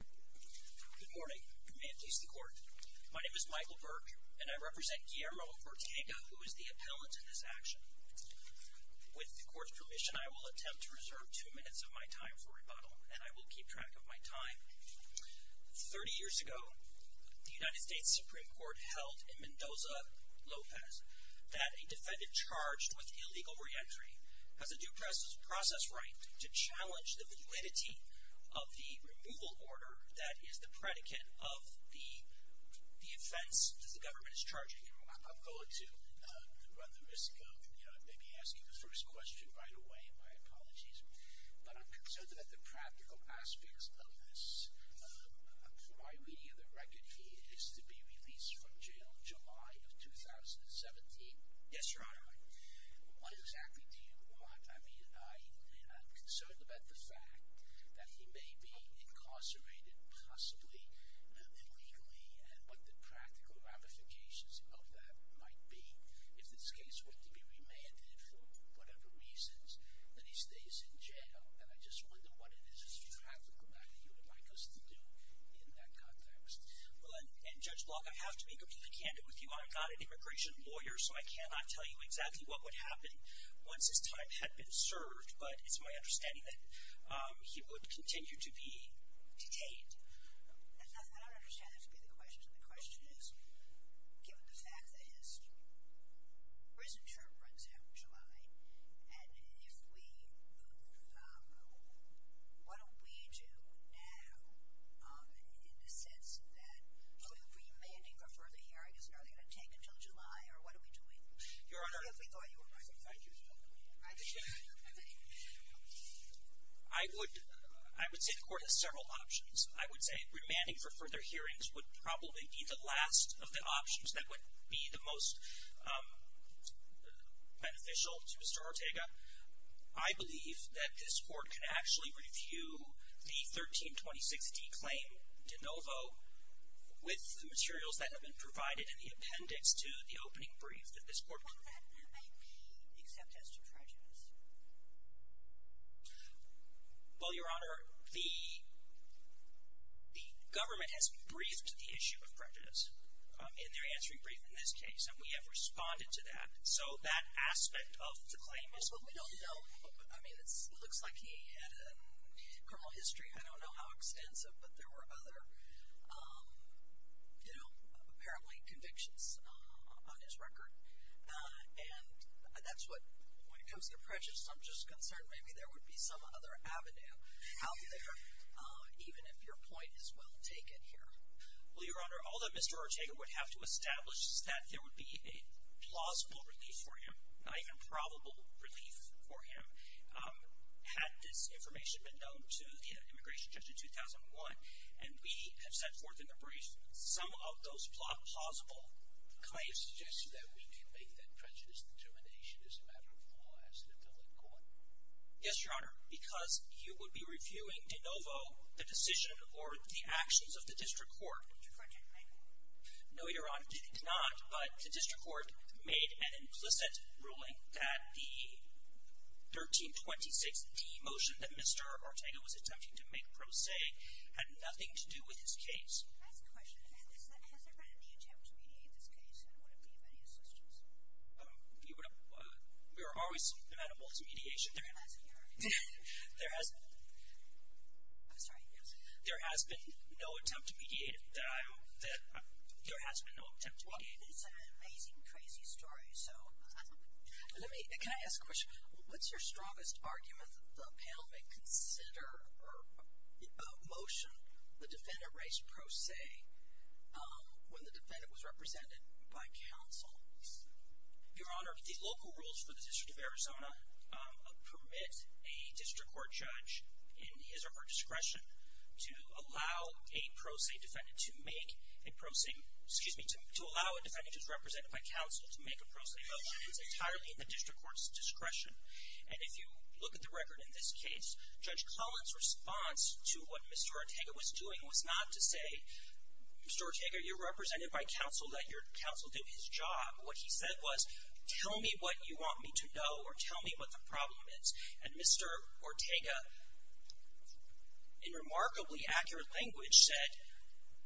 Good morning. May it please the Court. My name is Michael Berg and I represent Guillermo Ortega, who is the appellant in this action. With the Court's permission, I will attempt to reserve two minutes of my time for rebuttal, and I will keep track of my time. Thirty years ago, the United States Supreme Court held in Mendoza, Lopez, that a defendant charged with illegal reentry has a due process right to challenge the validity of the removal order that is the predicate of the offense that the government is charging him. I'm going to run the risk of maybe asking the first question right away. My apologies. But I'm concerned about the practical aspects of this. From my reading of the record, he is to be released from jail in July of 2017. Yes, Your Honor. What exactly do you want? I mean, I'm concerned about the fact that he may be incarcerated, possibly illegally, and what the practical ramifications of that might be. If this case were to be remanded for whatever reasons, then he stays in jail. And I just wonder what it is as far as the matter you would like us to do in that context. Well, and Judge Block, I have to be completely candid with you. I'm not an immigration lawyer, so I cannot tell you exactly what would happen once his time had been served. But it's my understanding that he would continue to be detained. I don't understand the specific questions. And the question is, given the fact that his prison term runs out in July, and if we move, what do we do now in the sense that remanding for further hearings is only going to take until July, or what are we doing? Your Honor, I would say the Court has several options. I would say remanding for further hearings would probably be the last of the options that would be the most beneficial to Mr. Ortega. I believe that this Court can actually review the 1326D claim de novo with the materials that have been provided in the appendix to the opening brief that this Court could provide. What would that mean, except as to prejudice? Well, Your Honor, the government has briefed the issue of prejudice in their answering brief in this case, and we have responded to that. So that aspect of the claim is what we do. Well, we don't know. I mean, it looks like he had a criminal history. I don't know how extensive, but there were other, you know, apparently convictions on his record. And that's what, when it comes to prejudice, I'm just concerned maybe there would be some other avenue out there, even if your point is well taken here. Well, Your Honor, all that Mr. Ortega would have to establish is that there would be a plausible relief for him, not even probable relief for him, had this information been known to the immigration judge in 2001. And we have set forth in the brief some of those plausible claims. You suggested that we do make that prejudice determination as a matter of law as an appellate court. Yes, Your Honor. Because you would be reviewing de novo the decision or the actions of the District Court. No, Your Honor, I did not. But the District Court made an implicit ruling that the 1326D motion that Mr. Ortega was attempting to make pro se had nothing to do with his case. Can I ask a question? Has there been any attempt to mediate this case? And would it be of any assistance? We are always amenable to mediation. There has been no attempt to mediate it. There has been no attempt to mediate it. Well, it's an amazing, crazy story. Can I ask a question? What's your strongest argument that the panel may consider or motion the defendant raised pro se when the defendant was represented by counsel? Your Honor, the local rules for the District of Arizona permit a District Court judge, in his or her discretion, to allow a pro se defendant to make a pro se, to allow a defendant who is represented by counsel to make a pro se vote. It's entirely at the District Court's discretion. And if you look at the record in this case, Judge Collins' response to what Mr. Ortega was doing was not to say, Mr. Ortega, you're represented by counsel, let your counsel do his job. What he said was, tell me what you want me to know or tell me what the problem is. And Mr. Ortega, in remarkably accurate language, said,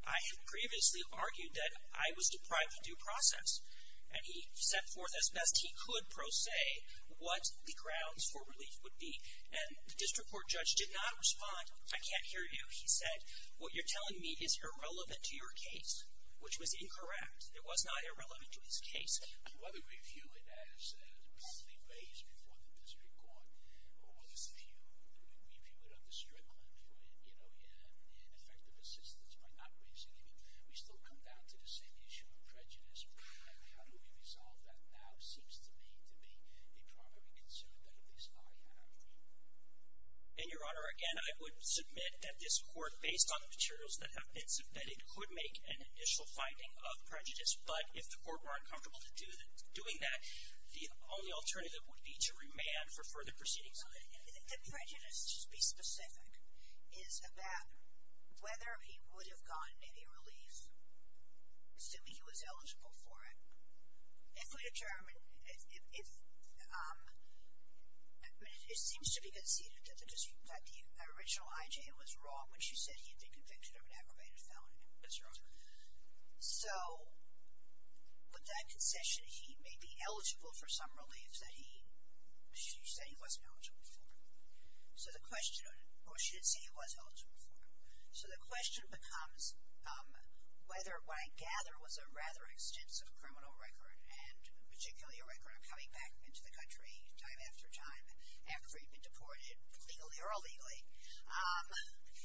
I have previously argued that I was deprived of due process. And he set forth as best he could pro se what the grounds for relief would be. And the District Court judge did not respond, I can't hear you. He said, what you're telling me is irrelevant to your case, which was incorrect. It was not irrelevant to his case. Whether we view it as the property raised before the District Court, or whether we view it under Strickland for ineffective assistance by not raising it, we still come down to the same issue of prejudice. How do we resolve that now seems to me to be a primary concern that at least I have. In your honor, again, I would submit that this court, based on the materials that have been submitted, could make an initial finding of prejudice. But if the court were uncomfortable in doing that, the only alternative would be to remand for further proceedings. The prejudice, to be specific, is about whether he would have gotten any relief, assuming he was eligible for it, if we determine, if, I mean, it seems to be conceded that the original IG was wrong when she said he had been convicted of an aggravated felony. That's right. So, with that concession, he may be eligible for some relief that he, she said he wasn't eligible for. So the question, or she did say he was eligible for. So the question becomes whether what I gather was a rather extensive criminal record, and particularly a record of coming back into the country time after time after he'd been deported, legally or illegally.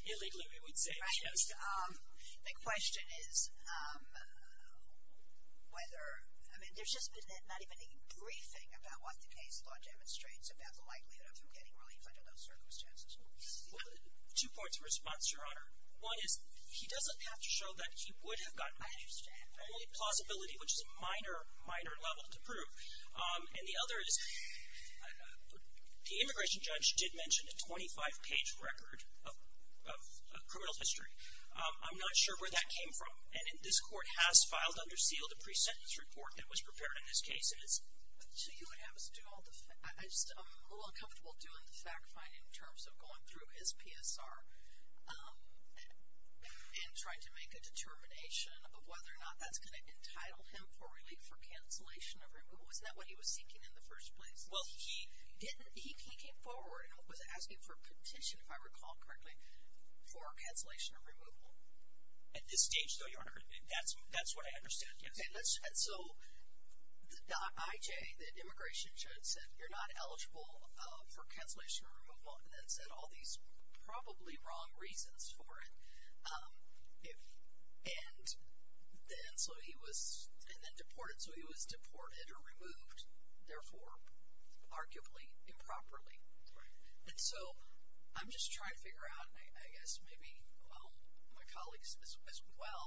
Illegally we would say, yes. The question is whether, I mean, there's just not even a briefing about what the case law demonstrates about the likelihood of him getting relief under those circumstances. Two points of response, Your Honor. One is he doesn't have to show that he would have gotten any. I understand. Only plausibility, which is a minor, minor level to prove. And the other is the immigration judge did mention a 25-page record of criminal history. I'm not sure where that came from. And this court has filed under seal the pre-sentence report that was prepared in this case. So you would have us do all the, I'm just a little uncomfortable doing the fact-finding in terms of going through his PSR and trying to make a determination of whether or not that's going to entitle him for relief or cancellation of relief. Wasn't that what he was seeking in the first place? Well, he didn't, he came forward and was asking for a petition, if I recall correctly, for cancellation or removal. At this stage, though, Your Honor, that's what I understand. So the .IJ, the immigration judge said you're not eligible for cancellation or removal and then said all these probably wrong reasons for it. And then so he was, and then deported. So he was deported or removed, therefore, arguably improperly. Right. And so I'm just trying to figure out, and I guess maybe all my colleagues as well,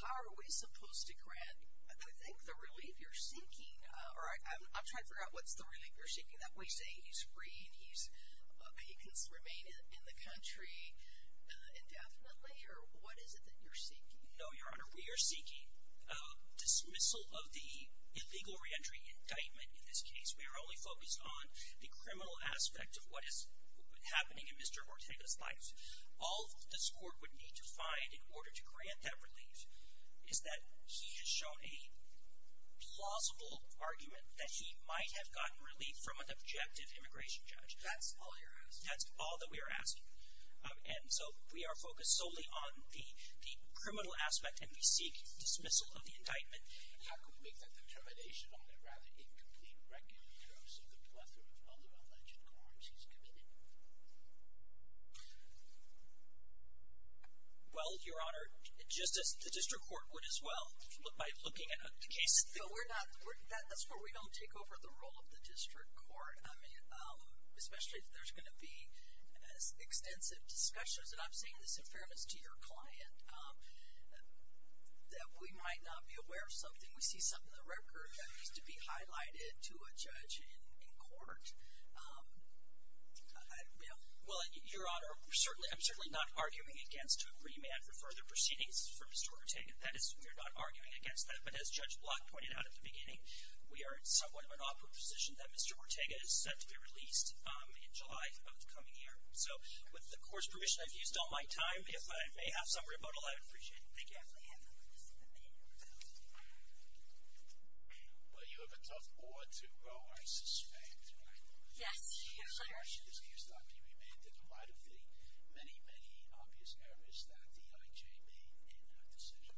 how are we supposed to grant, I think the relief you're seeking, or I'm trying to figure out what's the relief you're seeking. Are we saying he's free and he can remain in the country indefinitely? Or what is it that you're seeking? No, Your Honor, we are seeking dismissal of the illegal reentry indictment in this case. We are only focused on the criminal aspect of what is happening in Mr. Ortega's life. All this Court would need to find in order to grant that relief is that he has shown a plausible argument that he might have gotten relief from an objective immigration judge. That's all you're asking? That's all that we are asking. And so we are focused solely on the criminal aspect and we seek dismissal of the indictment. And I could make that determination on a rather incomplete record in terms of the plethora of other alleged crimes he's committed. Well, Your Honor, just as the District Court would as well, by looking at the case. No, we're not. That's where we don't take over the role of the District Court, especially if there's going to be extensive discussions, and I'm saying this in fairness to your client, that we might not be aware of something. We see something in the record that needs to be highlighted to a judge in court. Well, Your Honor, I'm certainly not arguing against a remand for further proceedings for Mr. Ortega. That is, we are not arguing against that. But as Judge Block pointed out at the beginning, we are in somewhat of an awkward position that Mr. Ortega is set to be released in July of the coming year. So with the Court's permission, I've used all my time. If I may have some rebuttal, I'd appreciate it. Thank you. Well, you have a tough board to grow, I suspect, right? Yes, Your Honor. Why should this case not be remanded? Why defeat many, many obvious errors that the IJ made in that decision?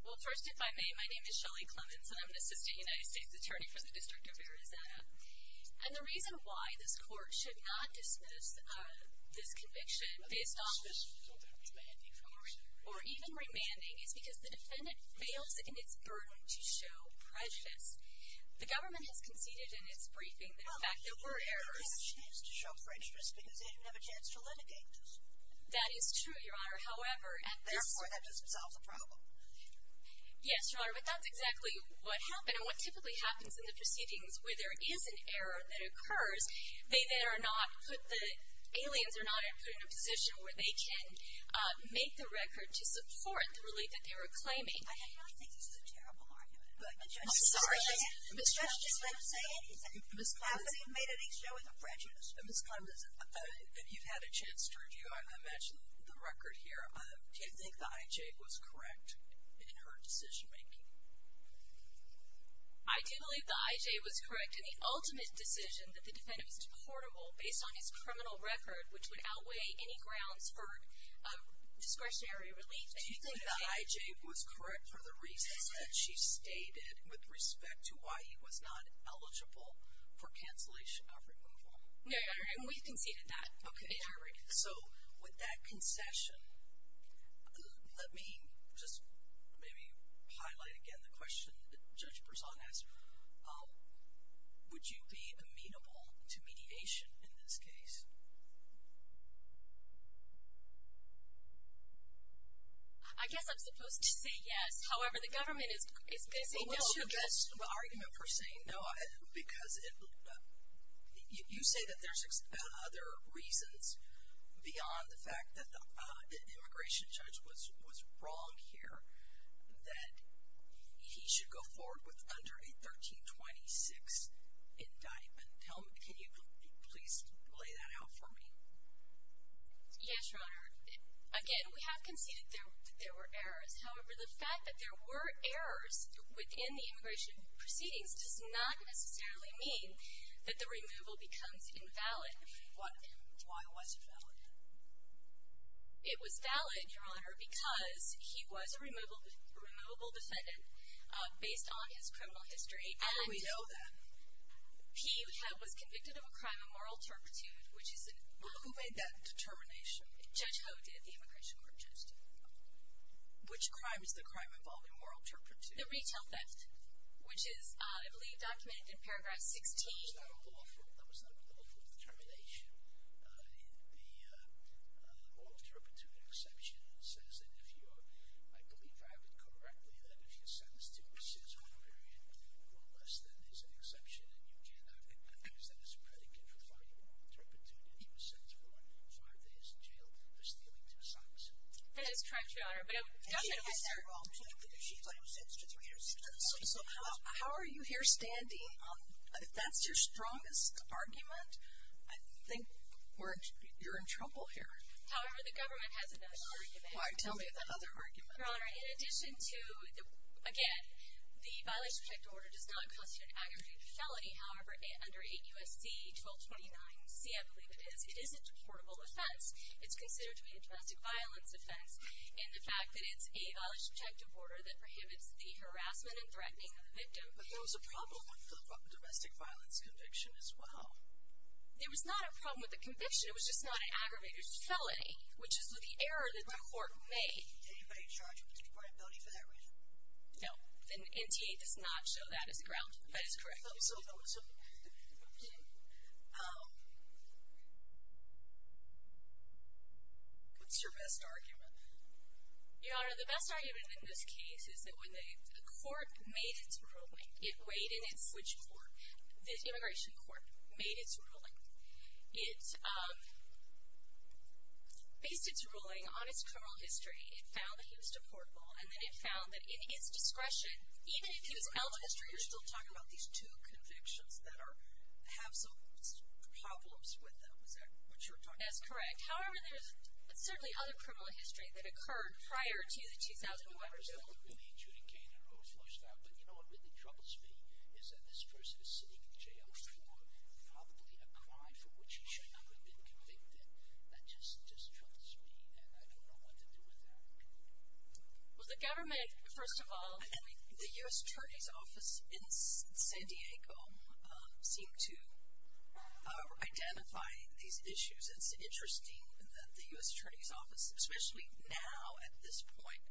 Well, first, if I may, my name is Shelley Clemons, and I'm an assistant United States attorney for the District of Arizona. And the reason why this Court should not dismiss this conviction based on a decision that was made before or even remanding is because the defendant fails in its burden to show prejudice. The government has conceded in its briefing that in fact there were errors. Well, they never had a chance to show prejudice because they didn't have a chance to litigate those errors. That is true, Your Honor. However, at this point... Therefore, that doesn't solve the problem. Yes, Your Honor, but that's exactly what happened. And what typically happens in the proceedings where there is an error that occurs, the aliens are not put in a position where they can make the record to support the relief that they were claiming. I do not think this is a terrible argument. I'm sorry, Ms. Clemons. I'm just going to say it. Ms. Clemons, you've made a big show of the prejudice. Ms. Clemons, you've had a chance to review, I imagine, the record here. Do you think the IJ was correct in her decision-making? I do believe the IJ was correct in the ultimate decision that the defendant was deportable based on his criminal record, which would outweigh any grounds for discretionary relief. Do you think the IJ was correct for the reasons that she stated with respect to why he was not eligible for cancellation of removal? No, Your Honor, and we've conceded that. Okay. So, with that concession, let me just maybe highlight again the question that Judge Berzon asked. Would you be amenable to mediation in this case? I guess I'm supposed to say yes. However, the government is saying no. Well, what's your best argument for saying no? Because you say that there's other reasons beyond the fact that the immigration judge was wrong here that he should go forward with under a 1326 indictment. Can you please lay that out for me? Yes, Your Honor. Again, we have conceded that there were errors. However, the fact that there were errors within the immigration proceedings does not necessarily mean that the removal becomes invalid. Why was it valid? It was valid, Your Honor, because he was a removable defendant based on his criminal history. How do we know that? He was convicted of a crime of moral turpitude. Who made that determination? Judge Ho did. The immigration court judged him. Okay. Which crime is the crime involving moral turpitude? The retail theft, which is, I believe, documented in paragraph 16. That was not a lawful determination. The moral turpitude exception says that if you're, I believe I read correctly, that if you're sentenced to a six-month period or less, then there's an exception, and you cannot accept this predicate for the fact that you were moral turpitude. He was sentenced to four and five days in jail for stealing two socks. That is correct, Your Honor. But it doesn't make sense at all. She claims six to three years in prison. So how are you here standing? If that's your strongest argument, I think you're in trouble here. However, the government has another argument. Why? Tell me about that other argument. Your Honor, in addition to the, again, the violation of objective order does not constitute an aggravated felony. However, under 8 U.S.C. 1229C, I believe it is, it is a deportable offense. It's considered to be a domestic violence offense, and the fact that it's a violation of objective order that prohibits the harassment and threatening of the victim. But there was a problem with the domestic violence conviction as well. There was not a problem with the conviction. It was just not an aggravated felony, which is the error that the court made. Anybody charged with deportability for that reason? No. And NTA does not show that as ground. That is correct. Okay. What's your best argument? Your Honor, the best argument in this case is that when the court made its ruling, it weighed in and switched court. The immigration court made its ruling. It based its ruling on its criminal history. It found that he was deportable, and then it found that in its discretion, Even if he was eligible, you're still talking about these two convictions that have some problems with them. Is that what you're talking about? That's correct. However, there's certainly other criminal history that occurred prior to the 2011 bill. I don't know if it was that woman named Judy Kane who was flushed out, but you know what really troubles me is that this person is sitting in jail for probably a crime for which he should not have been convicted. That just troubles me, and I don't know what to do with that. Well, the government, first of all. And the U.S. Attorney's Office in San Diego seemed to identify these issues. It's interesting that the U.S. Attorney's Office, especially now at this point,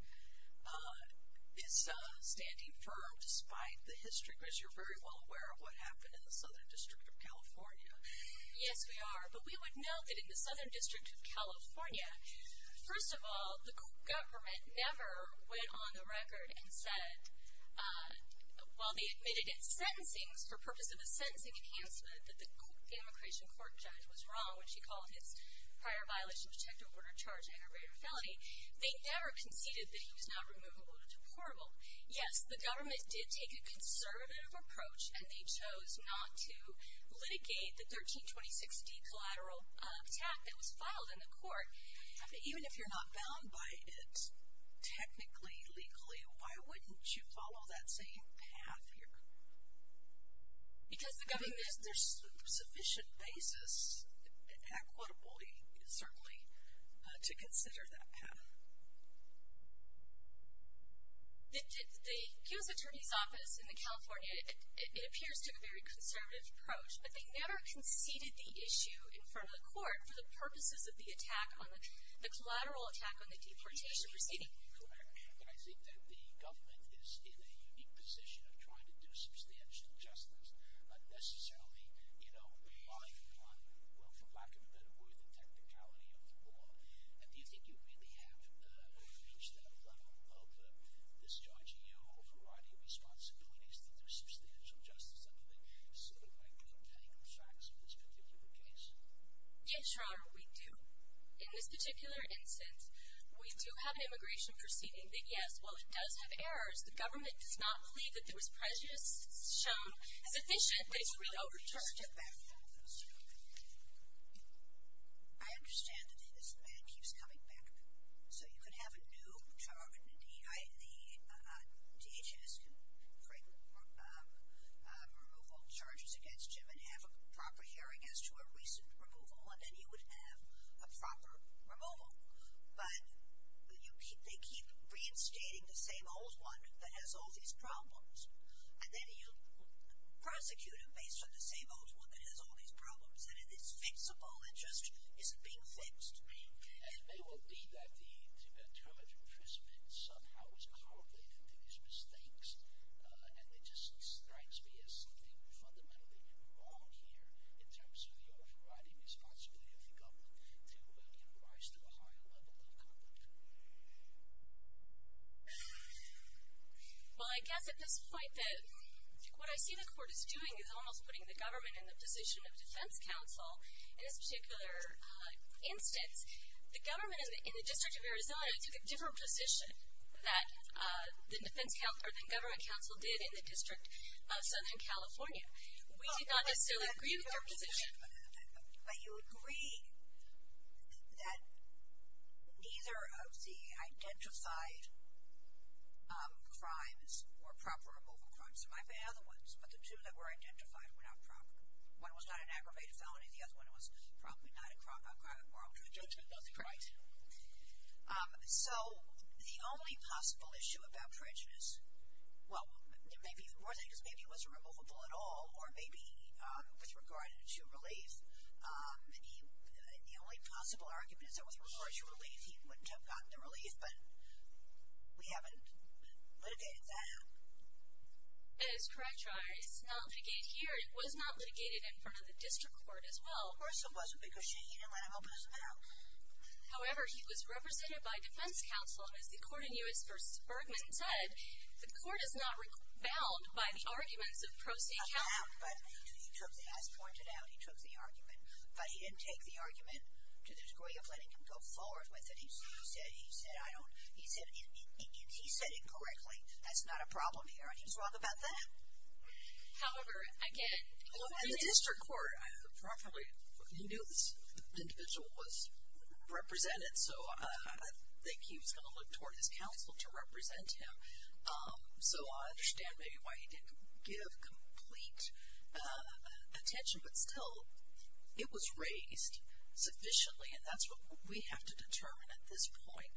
is standing firm despite the history. Because you're very well aware of what happened in the Southern District of California. Yes, we are. But we would note that in the Southern District of California, first of all, the government never went on the record and said, well, they admitted in sentencing, for purpose of a sentencing enhancement, that the immigration court judge was wrong when she called his prior violation to check the order charging a greater felony. They never conceded that he was not removable or deportable. Yes, the government did take a conservative approach, and they chose not to litigate the 1326D collateral attack that was filed in the court. Even if you're not bound by it technically, legally, why wouldn't you follow that same path here? Because the government — Because there's sufficient basis, equitably, certainly, to consider that path. The U.S. Attorney's Office in California, it appears to have a very conservative approach, but they never conceded the issue in front of the court for the purposes of the attack on the — the collateral attack on the deportation proceeding. And I think that the government is in a unique position of trying to do substantial justice, but necessarily relying upon, well, for lack of a better word, the technicality of the law. And do you think you really have reached that level of discharging your own variety of responsibilities that there's substantial justice under there? So, I don't have any concerns in this particular case. Yes, Your Honor, we do. In this particular instance, we do have an immigration proceeding that, yes, while it does have errors, the government does not believe that there was prejudice shown as efficient, but it's really overturned. I want to step back for a moment. I understand that this demand keeps coming back. So, you can have a new charge, the DHS can remove all charges against you and have a proper hearing as to a recent removal, and then you would have a proper removal. But they keep reinstating the same old one that has all these problems, and then you prosecute them based on the same old one that has all these problems, and it is fixable, it just isn't being fixed. And it may well be that the term of imprisonment somehow is correlated to these mistakes, and it just strikes me as something fundamentally wrong here in terms of your variety of responsibilities of the government to rise to a higher level of comfort. Well, I guess at this point that what I see the court is doing is almost putting the government in the position of defense counsel. In this particular instance, the government in the District of Arizona took a different position that the government counsel did in the District of Southern California. We did not necessarily agree with their position. But you agree that neither of the identified crimes were proper removal crimes. There might be other ones, but the two that were identified were not proper. One was not an aggravated felony. The other one was probably not a crime of moral prejudice. Right. So the only possible issue about prejudice, well, the more thing is maybe it wasn't removable at all, or maybe with regard to relief, the only possible argument is that with regard to relief, he wouldn't have gotten the relief, but we haven't litigated that. That is correct, Your Honor. It's not litigated here. It was not litigated in front of the district court as well. Of course it wasn't, because she didn't let him open his mouth. However, he was represented by defense counsel, and as the court in U.S. v. Bergman said, the court is not bound by the arguments of pro se counsel. As pointed out, he took the argument. But he didn't take the argument to the degree of letting him go forward with it. He said, he said, I don't, he said, he said it correctly. That's not a problem here. And he was wrong about that. However, again. Well, in the district court, he knew this individual was represented, so I think he was going to look toward his counsel to represent him. So I understand maybe why he didn't give complete attention. But still, it was raised sufficiently, and that's what we have to determine at this point.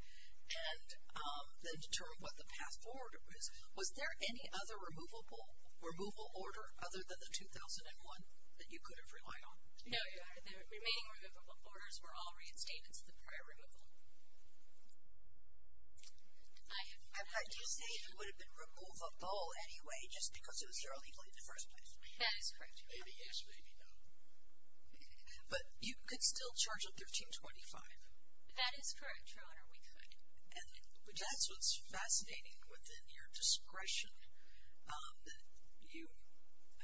And then determine what the past order is. Was there any other removable, removal order other than the 2001 that you could have relied on? No, Your Honor. The remaining removable orders were all reinstated to the prior removal. I'm trying to say it would have been removable anyway, just because it was there illegally in the first place. That is correct, Your Honor. Maybe yes, maybe no. But you could still charge a 1325. That is correct, Your Honor, we could. And that's what's fascinating within your discretion that you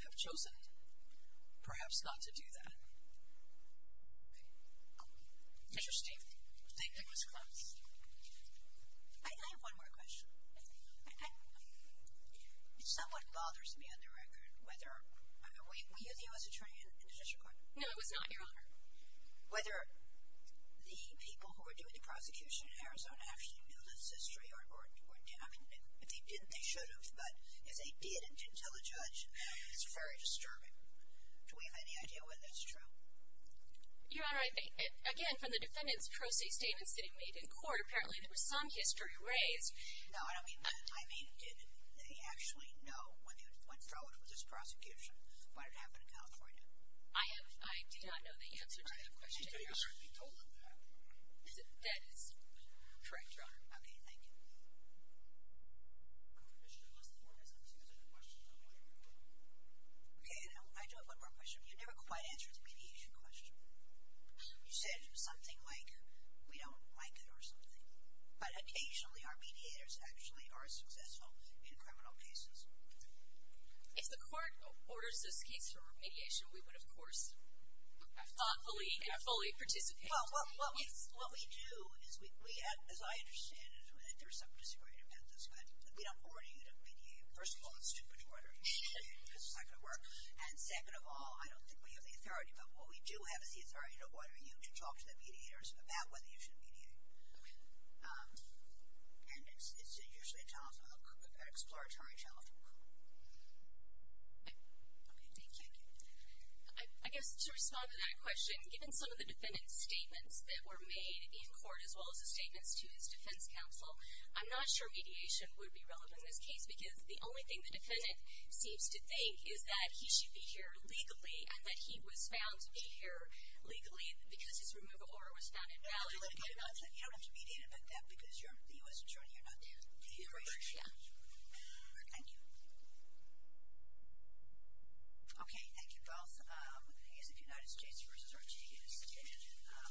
have chosen, perhaps, not to do that. Okay. Interesting. I think that was close. I have one more question. It somewhat bothers me on the record whether, were you the U.S. attorney in the district court? No, I was not, Your Honor. Whether the people who were doing the prosecution in Arizona actually knew this history, or if they didn't, they should have, but if they didn't and didn't tell the judge, it's very disturbing. Do we have any idea whether that's true? Your Honor, again, from the defendant's pro se statements that he made in court, apparently there was some history raised. No, I don't mean that. I mean, did he actually know when he went forward with this prosecution? Why did it happen in California? I do not know the answer to that question, Your Honor. Did he already be told of that? That is correct, Your Honor. Okay, thank you. Commissioner, let's move on to the next question. Okay, I do have one more question. You never quite answered the mediation question. You said something like we don't like it or something, but occasionally our mediators actually are successful in criminal cases. If the court orders this case for remediation, we would, of course, have thoughtfully and fully participated. Well, what we do is we have, as I understand it, there is some disagreement about this, but we don't order you to mediate. First of all, it's too much work. This is not going to work. And second of all, I don't think we have the authority, but what we do have is the authority to order you to talk to the mediators about whether you should mediate. Okay. And it's usually a challenge, an exploratory challenge. Okay, thank you. I guess to respond to that question, given some of the defendant's statements that were made in court, as well as the statements to his defense counsel, I'm not sure mediation would be relevant in this case because the only thing the defendant seems to think is that he should be here legally and that he was found to be here legally because his removal order was found invalid. You don't have to mediate about that because you're the U.S. Attorney. You're not there. Yeah. Thank you. Okay, thank you both. I guess if you noticed, Jase, you were searching his statement.